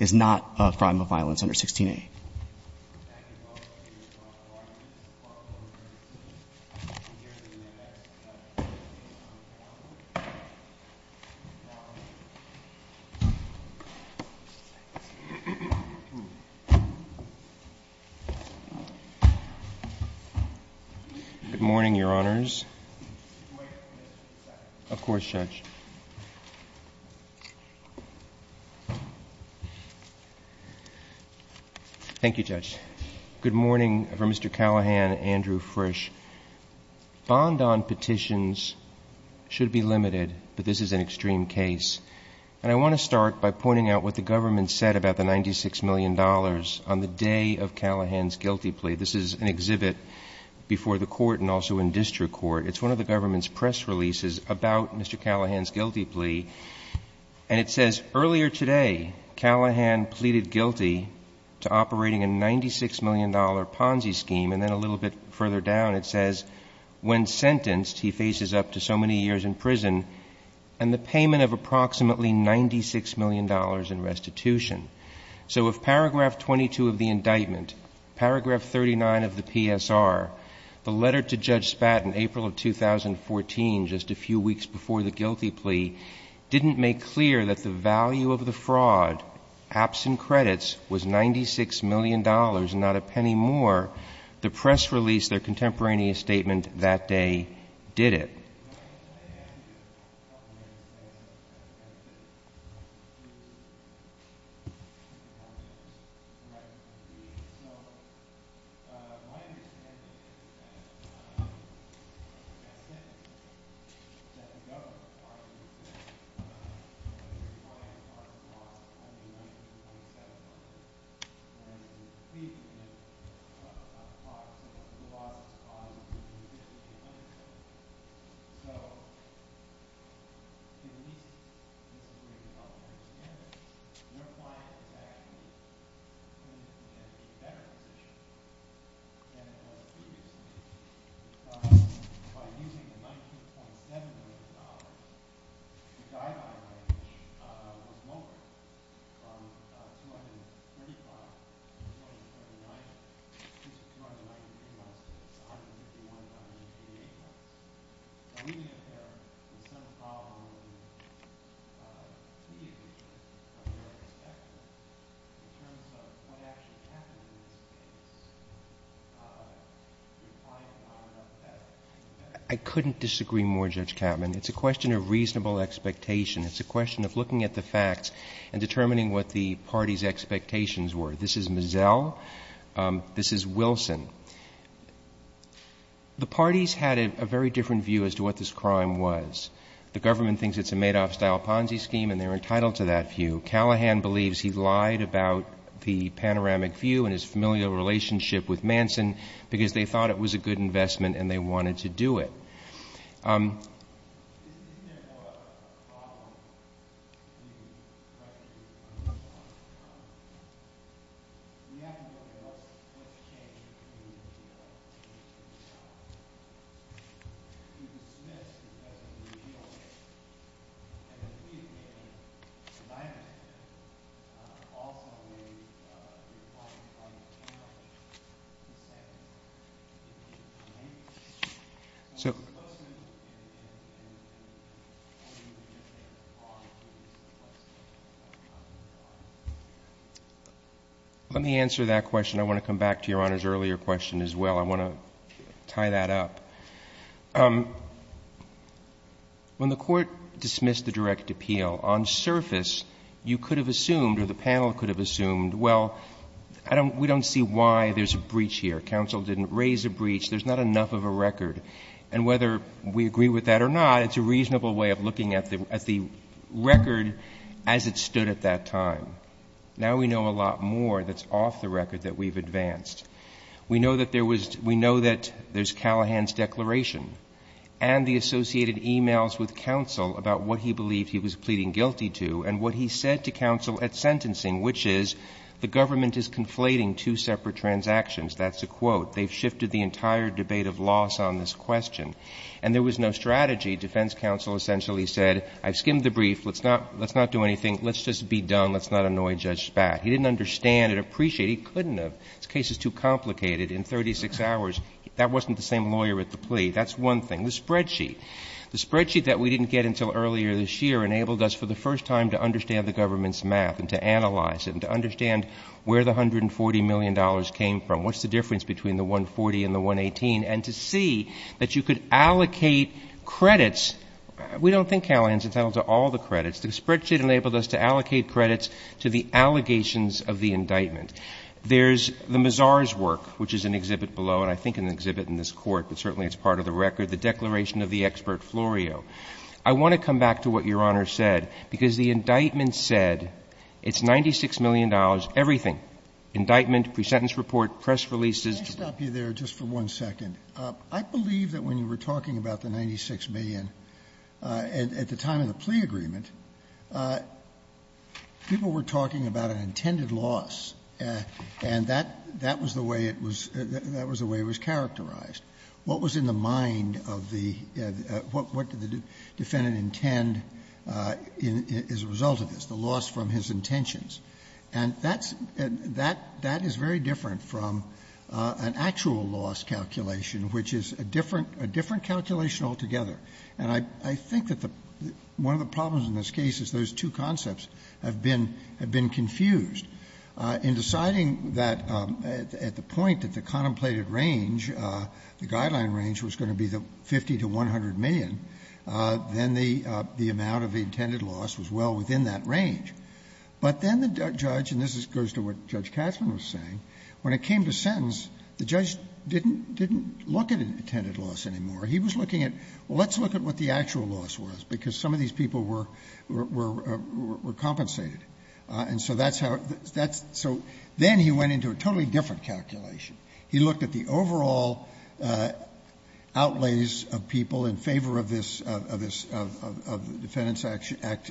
is not a crime of violence under 16a. Good morning, your honors. Of course, Judge. Thank you, Judge. Good morning from Mr. Callahan and Andrew Frisch. Bond on petitions should be limited, but this is an extreme case. I want to start by pointing out what the government said about the $96 million on the day of Callahan's guilty plea. This is an exhibit before the court and also in district court. It's one of the government's press releases about Mr. Callahan's guilty plea. And it says, earlier today, Callahan pleaded guilty to operating a $96 million Ponzi scheme. And then a little bit further down, it says, when sentenced, he faces up to so many years in prison and the payment of approximately $96 million in restitution. So if paragraph 22 of the indictment, paragraph 39 of the PSR, the letter to Judge Spat in April of 2014, just a few weeks before the guilty plea, didn't make clear that the value of the fraud, absent credits, was $96 million and not a penny more, the press released their contemporaneous statement that day did it. So, in these cases, their client is actually in a better position than it was previously. By using the $19.7 million, the die-by money was lowered from $235 to $239. I couldn't disagree more, Judge Kattman. It's a question of reasonable expectation. It's a question of looking at the facts and determining what the party's expectations were. This is Mazel. This is Wilson. The parties had a very different view as to what this crime was. The government thinks it's a Madoff-style Ponzi scheme and they're entitled to that view. Callahan believes he lied about the panoramic view and his familial relationship with Manson because they thought it was a good investment and they wanted to do it. Isn't there more of a problem? We have to look at what's changed in the community. Let me answer that question. I want to come back to Your Honor's earlier question as well. I want to tie that up. When the Court dismissed the direct appeal, on surface, you could have assumed or the panel could have assumed, well, we don't see why there's a breach here. Counsel didn't raise a breach. There's not enough of a record. And whether we agree with that or not, it's a reasonable way of looking at the record as it stood at that time. Now we know a lot more that's off the record that we've advanced. We know that there's Callahan's declaration and the associated emails with counsel about what he believed he was pleading guilty to and what he said to counsel at sentencing, which is the government is conflating two separate transactions. That's a quote. They've shifted the entire debate of loss on this question. And there was no strategy. Defense counsel essentially said, I've skimmed the brief. Let's not do anything. Let's just be done. Let's not annoy Judge Spad. He didn't understand and appreciate. He couldn't have. This case is too complicated. In 36 hours, that wasn't the same lawyer at the plea. That's one thing. The spreadsheet. The spreadsheet that we didn't get until earlier this year enabled us for the first time to understand the government's math and to analyze it and to understand where the $140 million came from. What's the difference between the 140 and the 118? And to see that you could allocate credits. We don't think Callahan's entitled to all the credits. The spreadsheet enabled us to allocate credits to the allegations of the indictment. There's the Mazar's work, which is an exhibit below, and I think an exhibit in this court, but certainly it's part of the record. The declaration of the expert Florio. I want to come back to what Your Honor said, because the indictment said it's $96 million. Everything. Indictment, pre-sentence report, press releases. Let me stop you there just for one second. I believe that when you were talking about the $96 million at the time of the plea agreement, people were talking about an intended loss, and that was the way it was characterized. What was in the mind of the, what did the defendant intend as a result of this, the loss from his intentions? And that is very different from an actual loss calculation, which is a different calculation altogether. And I think that one of the problems in this case is those two concepts have been confused. In deciding that at the point that the contemplated range, the guideline range, was going to be the 50 to 100 million, then the amount of the intended loss was well within that range. But then the judge, and this goes to what Judge Katzmann was saying, when it came to sentence, the judge didn't look at an intended loss anymore. He was looking at, well, let's look at what the actual loss was, because some of these people were compensated. And so that's how, so then he went into a totally different calculation. He looked at the overall outlays of people in favor of this, of the defendant's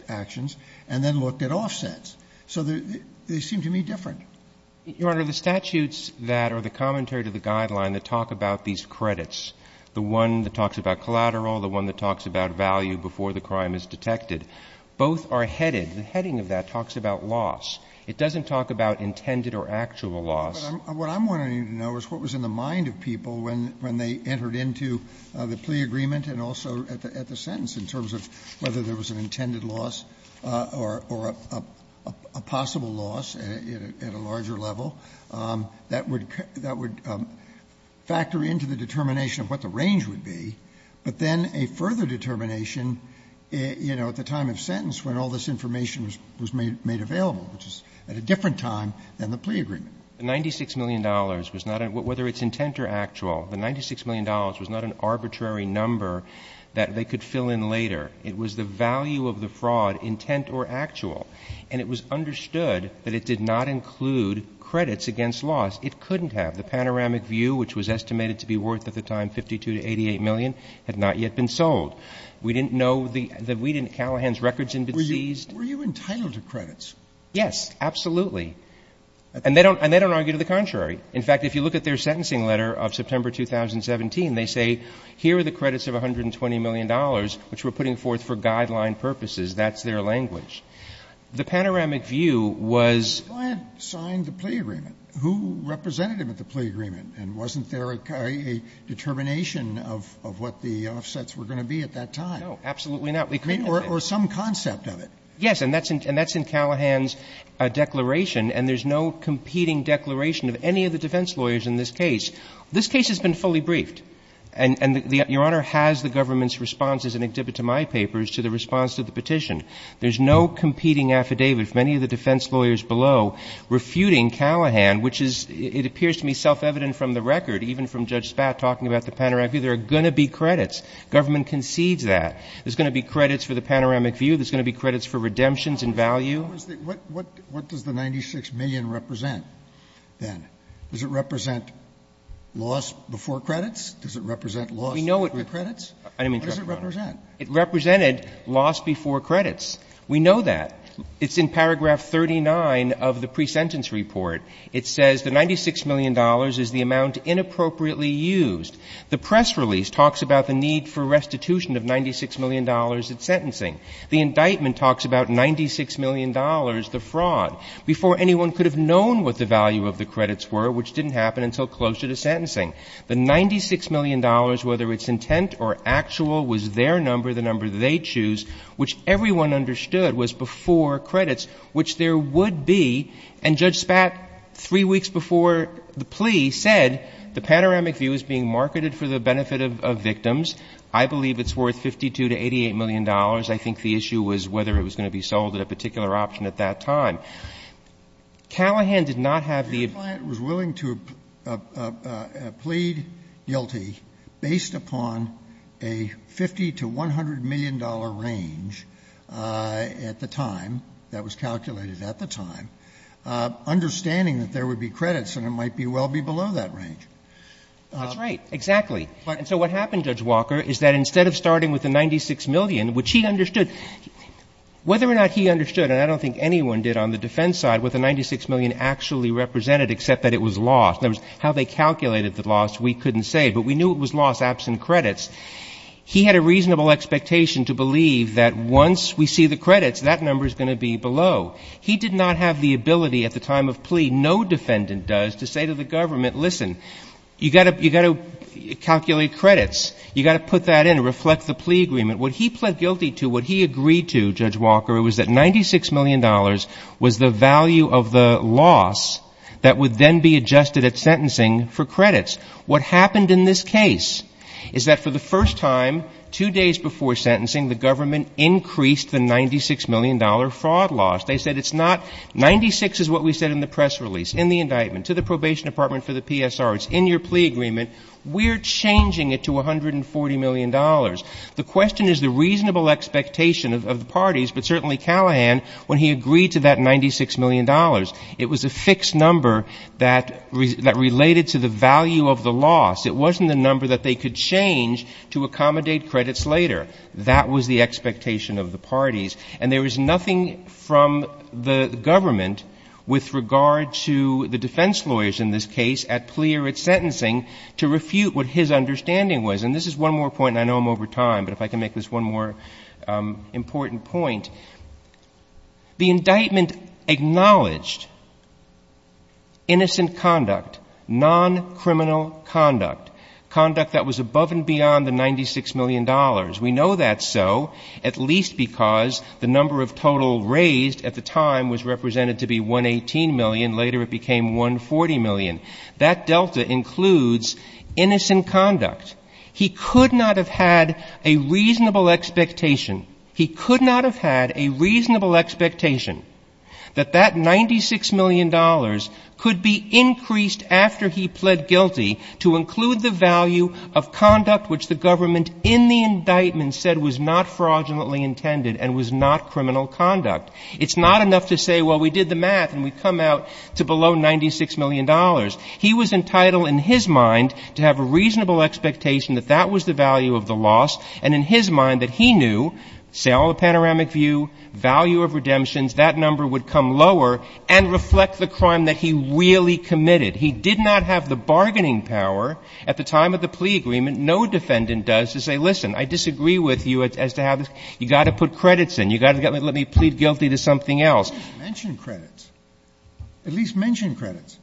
actions, and then looked at offsets. So they seem to me different. Roberts. Your Honor, the statutes that are the commentary to the guideline that talk about these credits, the one that talks about collateral, the one that talks about value before the crime is detected, both are headed. The heading of that talks about loss. It doesn't talk about intended or actual loss. What I'm wanting you to know is what was in the mind of people when they entered into the plea agreement and also at the sentence in terms of whether there was an intended loss or a possible loss at a larger level. That would factor into the determination of what the range would be. But then a further determination, you know, at the time of sentence when all this information was made available, which is at a different time than the plea agreement. The $96 million was not, whether it's intent or actual, the $96 million was not an arbitrary number that they could fill in later. It was the value of the fraud, intent or actual. And it was understood that it did not include credits against loss. It couldn't have. The panoramic view, which was estimated to be worth at the time $52 to $88 million, had not yet been sold. We didn't know the — Callahan's records hadn't been seized. Were you entitled to credits? Yes, absolutely. And they don't argue to the contrary. In fact, if you look at their sentencing letter of September 2017, they say here are the credits of $120 million, which we're putting forth for guideline purposes. That's their language. The panoramic view was — But the client signed the plea agreement. Who represented him at the plea agreement? And wasn't there a determination of what the offsets were going to be at that time? No, absolutely not. They couldn't have. I mean, or some concept of it. Yes. And that's in Callahan's declaration. And there's no competing declaration of any of the defense lawyers in this case. This case has been fully briefed. And Your Honor has the government's responses in exhibit to my papers to the response to the petition. There's no competing affidavit from any of the defense lawyers below refuting Callahan, which is, it appears to me, self-evident from the record, even from Judge Spatt talking about the panoramic view. There are going to be credits. Government concedes that. There's going to be credits for the panoramic view. There's going to be credits for redemptions and value. What does the $96 million represent, then? Does it represent loss before credits? Does it represent loss before credits? We know it — I didn't mean to interrupt, Your Honor. What does it represent? It represented loss before credits. We know that. It's in paragraph 39 of the pre-sentence report. It says the $96 million is the amount inappropriately used. The press release talks about the need for restitution of $96 million at sentencing. The indictment talks about $96 million, the fraud. Before, anyone could have known what the value of the credits were, which didn't happen until closer to sentencing. The $96 million, whether it's intent or actual, was their number, the number they choose, which everyone understood was before credits, which there would be. And Judge Spatt, three weeks before the plea, said the panoramic view is being marketed for the benefit of victims. I believe it's worth $52 to $88 million. I think the issue was whether it was going to be sold at a particular option at that time. Callahan did not have the — The client was willing to plead guilty based upon a $50 to $100 million range at the time, that was calculated at the time, understanding that there would be credits and it might well be below that range. That's right. Exactly. And so what happened, Judge Walker, is that instead of starting with the $96 million, which he understood — whether or not he understood, and I don't think anyone did on the defense side, what the $96 million actually represented, except that it was lost. In other words, how they calculated the loss, we couldn't say. But we knew it was lost, absent credits. He had a reasonable expectation to believe that once we see the credits, that number is going to be below. He did not have the ability at the time of plea, no defendant does, to say to the government, listen, you've got to calculate credits. You've got to put that in and reflect the plea agreement. What he pled guilty to, what he agreed to, Judge Walker, was that $96 million was the value of the loss that would then be adjusted at sentencing for credits. What happened in this case is that for the first time, two days before sentencing, the government increased the $96 million fraud loss. They said it's not — 96 is what we said in the press release, in the indictment, to the probation department, for the PSR, it's in your plea agreement. We're changing it to $140 million. The question is the reasonable expectation of the parties, but certainly Callahan, when he agreed to that $96 million, it was a fixed number that related to the value of the loss. It wasn't a number that they could change to accommodate credits later. That was the expectation of the parties. And there was nothing from the government with regard to the defense lawyers in this case at plea or at sentencing to refute what his understanding was. And this is one more point, and I know I'm over time, but if I can make this one more important point. The indictment acknowledged innocent conduct, non-criminal conduct, conduct that was above and beyond the $96 million. We know that's so, at least because the number of total raised at the time was represented to be $118 million. Later it became $140 million. That delta includes innocent conduct. He could not have had a reasonable expectation. He could not have had a reasonable expectation that that $96 million could be increased after he pled guilty to include the value of conduct which the government in the indictment said was not fraudulently intended and was not criminal conduct. It's not enough to say, well, we did the math and we come out to below $96 million. He was entitled in his mind to have a reasonable expectation that that was the value of the loss, and in his mind that he knew, say, all the panoramic view, value of redemptions, that number would come lower and reflect the crime that he really committed. He did not have the bargaining power at the time of the plea agreement, no defendant does, to say, listen, I disagree with you as to how you've got to put credits in. You've got to let me plead guilty to something else. But at least mention credits. At least mention credits.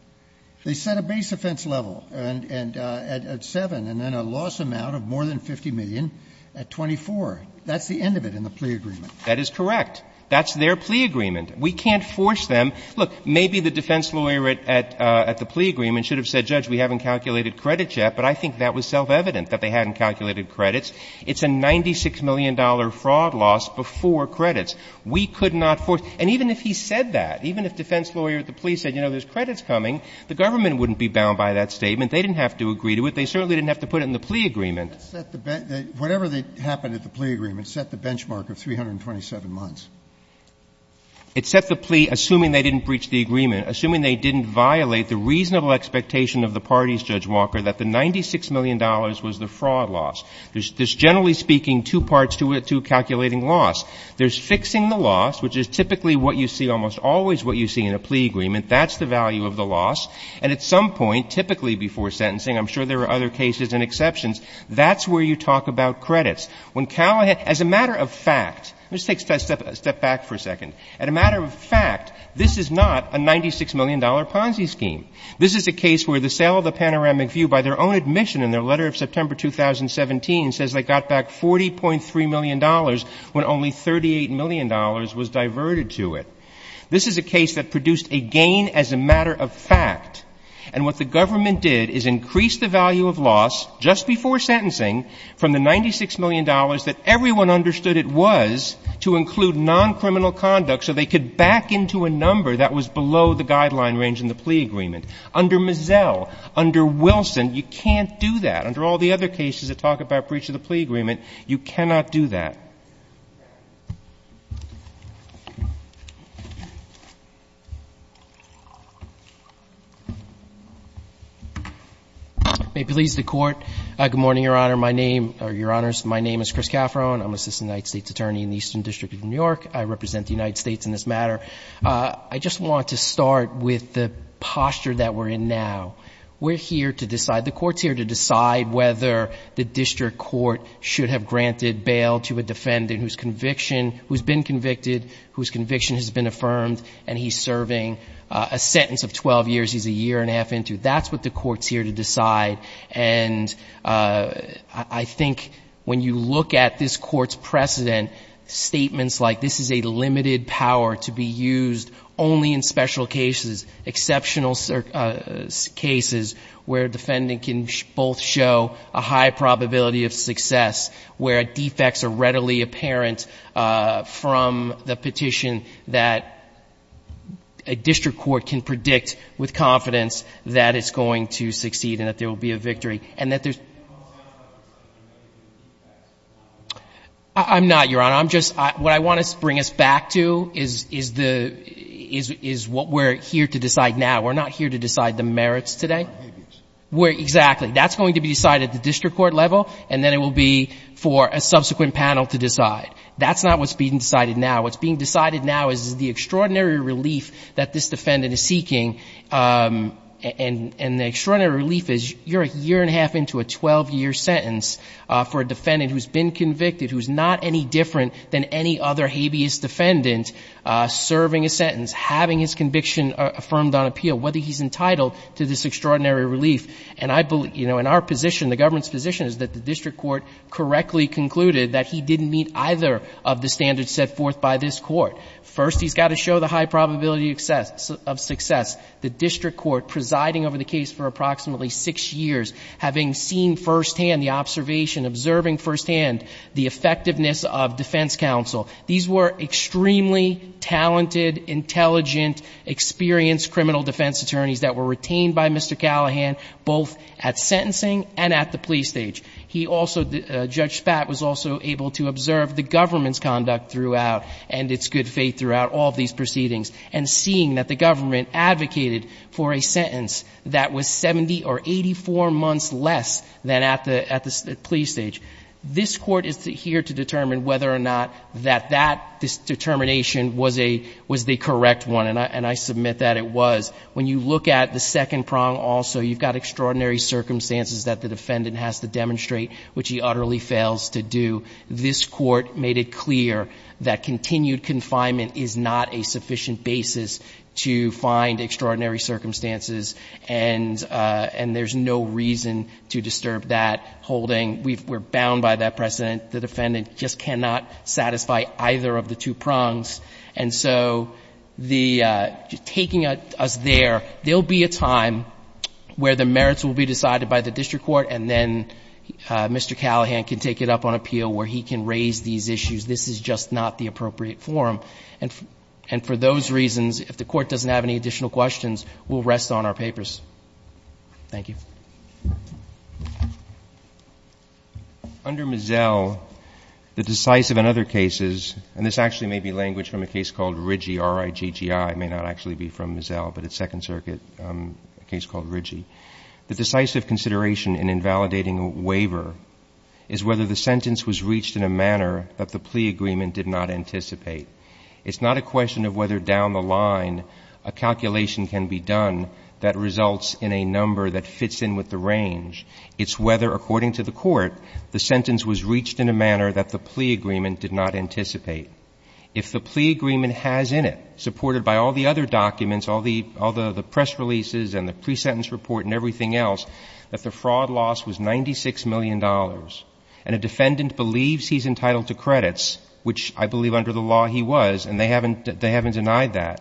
They set a base offense level at 7 and then a loss amount of more than $50 million at 24. That's the end of it in the plea agreement. That is correct. That's their plea agreement. We can't force them. Look, maybe the defense lawyer at the plea agreement should have said, Judge, we haven't calculated credits yet, but I think that was self-evident that they hadn't calculated credits. It's a $96 million fraud loss before credits. We could not force. And even if he said that, even if defense lawyer at the plea said, you know, there's credits coming, the government wouldn't be bound by that statement. They didn't have to agree to it. They certainly didn't have to put it in the plea agreement. Whatever happened at the plea agreement set the benchmark of 327 months. It set the plea, assuming they didn't breach the agreement, assuming they didn't violate the reasonable expectation of the parties, Judge Walker, that the $96 million was the fraud loss. There's generally speaking two parts to calculating loss. There's fixing the loss, which is typically what you see almost always what you see in a plea agreement. That's the value of the loss. And at some point, typically before sentencing, I'm sure there are other cases and exceptions, that's where you talk about credits. When Cali as a matter of fact, let's take a step back for a second. As a matter of fact, this is not a $96 million Ponzi scheme. This is a case where the sale of the panoramic view by their own admission in their September 2017 says they got back $40.3 million when only $38 million was diverted to it. This is a case that produced a gain as a matter of fact. And what the government did is increase the value of loss just before sentencing from the $96 million that everyone understood it was to include non-criminal conduct so they could back into a number that was below the guideline range in the plea agreement. Under Mazzell, under Wilson, you can't do that. Under all the other cases that talk about breach of the plea agreement, you cannot do that. May it please the Court. Good morning, Your Honor. My name, or Your Honors, my name is Chris Cafferone. I'm Assistant United States Attorney in the Eastern District of New York. I represent the United States in this matter. I just want to start with the posture that we're in now. We're here to decide. The Court's here to decide whether the District Court should have granted bail to a defendant whose conviction, who's been convicted, whose conviction has been affirmed, and he's serving a sentence of 12 years. He's a year and a half into it. That's what the Court's here to decide. And I think when you look at this Court's precedent, statements like this is a case where a defendant can both show a high probability of success, where defects are readily apparent from the petition that a District Court can predict with confidence that it's going to succeed and that there will be a victory. And that there's I'm not, Your Honor. I'm just, what I want to bring us back to is what we're here to decide now. We're not here to decide the merits today. We're, exactly. That's going to be decided at the District Court level, and then it will be for a subsequent panel to decide. That's not what's being decided now. What's being decided now is the extraordinary relief that this defendant is seeking. And the extraordinary relief is you're a year and a half into a 12-year sentence for a defendant who's been convicted, who's not any different than any other habeas defendant serving a sentence, having his conviction affirmed on appeal. Whether he's entitled to this extraordinary relief. And I believe, you know, in our position, the government's position is that the District Court correctly concluded that he didn't meet either of the standards set forth by this Court. First, he's got to show the high probability of success. The District Court presiding over the case for approximately six years, having seen firsthand the observation, observing firsthand the effectiveness of defense counsel. These were extremely talented, intelligent, experienced criminal defense attorneys that were retained by Mr. Callahan, both at sentencing and at the police stage. He also, Judge Spatz, was also able to observe the government's conduct throughout and its good faith throughout all of these proceedings. And seeing that the government advocated for a sentence that was 70 or 84 months less than at the police stage. This Court is here to determine whether or not that determination was the correct one. And I submit that it was. When you look at the second prong also, you've got extraordinary circumstances that the defendant has to demonstrate, which he utterly fails to do. This Court made it clear that continued confinement is not a sufficient basis to find extraordinary circumstances. And there's no reason to disturb that holding. We're bound by that precedent. The defendant just cannot satisfy either of the two prongs. And so taking us there, there will be a time where the merits will be decided by the district court and then Mr. Callahan can take it up on appeal where he can raise these issues. This is just not the appropriate forum. And for those reasons, if the Court doesn't have any additional questions, we'll rest on our papers. Thank you. Under Mizzell, the decisive in other cases, and this actually may be language from a case called Riggi, R-I-G-G-I. It may not actually be from Mizzell, but it's Second Circuit, a case called Riggi. The decisive consideration in invalidating a waiver is whether the sentence was reached in a manner that the plea agreement did not anticipate. It's not a question of whether down the line a calculation can be done that results in a number that fits in with the range. It's whether, according to the Court, the sentence was reached in a manner that the plea agreement did not anticipate. If the plea agreement has in it, supported by all the other documents, all the press releases and the pre-sentence report and everything else, that the fraud loss was $96 million, and a defendant believes he's entitled to credits, which I believe under the law he was, and they haven't denied that,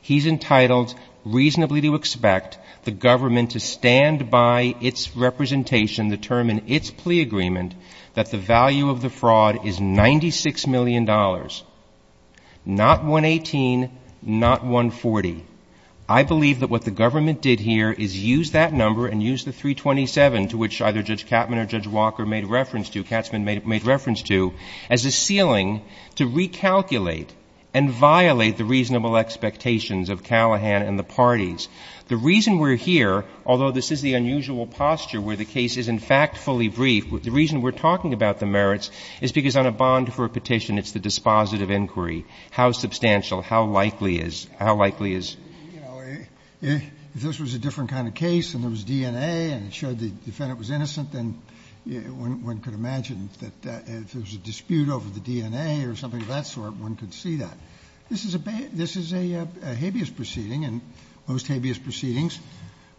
he's entitled reasonably to expect the government to stand by its representation, determine its plea agreement, that the value of the fraud is $96 million. Not 118, not 140. I believe that what the government did here is use that number and use the 327, to which either Judge Katzman or Judge Walker made reference to, Katzman made reference to, as a ceiling to recalculate and violate the reasonable expectations of Callahan and the parties. The reason we're here, although this is the unusual posture where the case isn't factfully brief, the reason we're talking about the merits is because on a bond for a petition it's the dispositive inquiry, how substantial, how likely is, how likely is. If this was a different kind of case and there was DNA and it showed the defendant was innocent, then one could imagine that if there was a dispute over the DNA or something of that sort, one could see that. This is a habeas proceeding and most habeas proceedings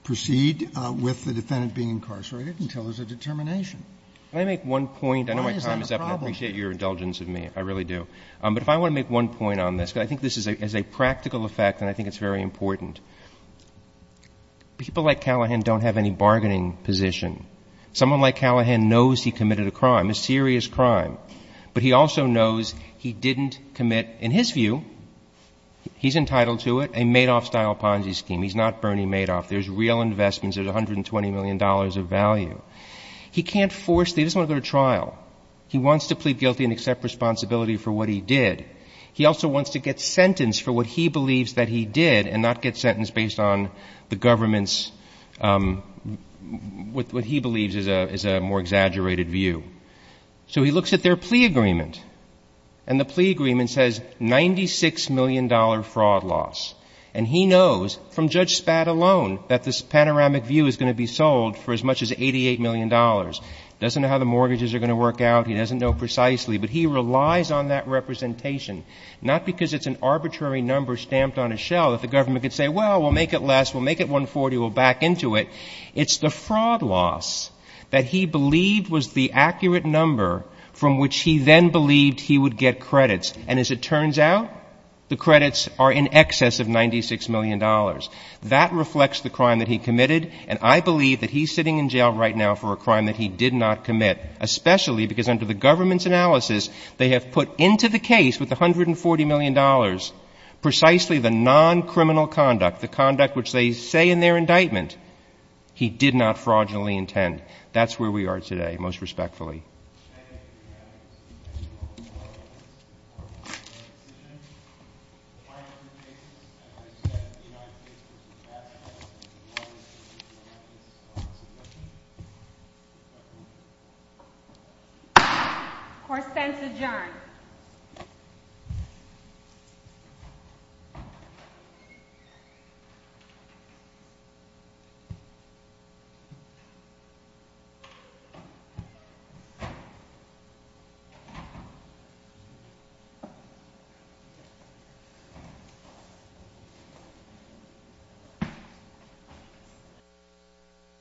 proceed with the defendant being incarcerated until there's a determination. Can I make one point? Why is that a problem? I know my time is up and I appreciate your indulgence of me, I really do. But if I want to make one point on this, because I think this is a practical effect and I think it's very important. People like Callahan don't have any bargaining position. Someone like Callahan knows he committed a crime, a serious crime, but he also knows he didn't commit, in his view, he's entitled to it, a Madoff-style Ponzi scheme. He's not Bernie Madoff. There's real investments. There's $120 million of value. He can't force, he doesn't want to go to trial. He wants to plead guilty and accept responsibility for what he did. He also wants to get sentenced for what he believes that he did and not get sentenced based on the government's, what he believes is a more exaggerated view. So he looks at their plea agreement. And the plea agreement says $96 million fraud loss. And he knows, from Judge Spad alone, that this panoramic view is going to be sold for as much as $88 million. He doesn't know how the mortgages are going to work out. He doesn't know precisely. But he relies on that representation, not because it's an arbitrary number stamped on a shell that the government could say, well, we'll make it less, we'll make it $140, we'll back into it. It's the fraud loss that he believed was the accurate number from which he then believed he would get credits. And as it turns out, the credits are in excess of $96 million. That reflects the crime that he committed. And I believe that he's sitting in jail right now for a crime that he did not commit, especially because under the government's analysis, they have put into the case with $140 million precisely the non-criminal conduct, the conduct which they say in their indictment, he did not fraudulently intend. That's where we are today, most respectfully. Thank you, Your Honor. I seek refuge in the Lord from the devil, and from the devil, and from the devil, and from the devil, and from the devil. I pledge allegiance to the flag of the United States of America, and to the republic for which it stands, one nation, under God, indivisible, with liberty and justice for all. Thank you.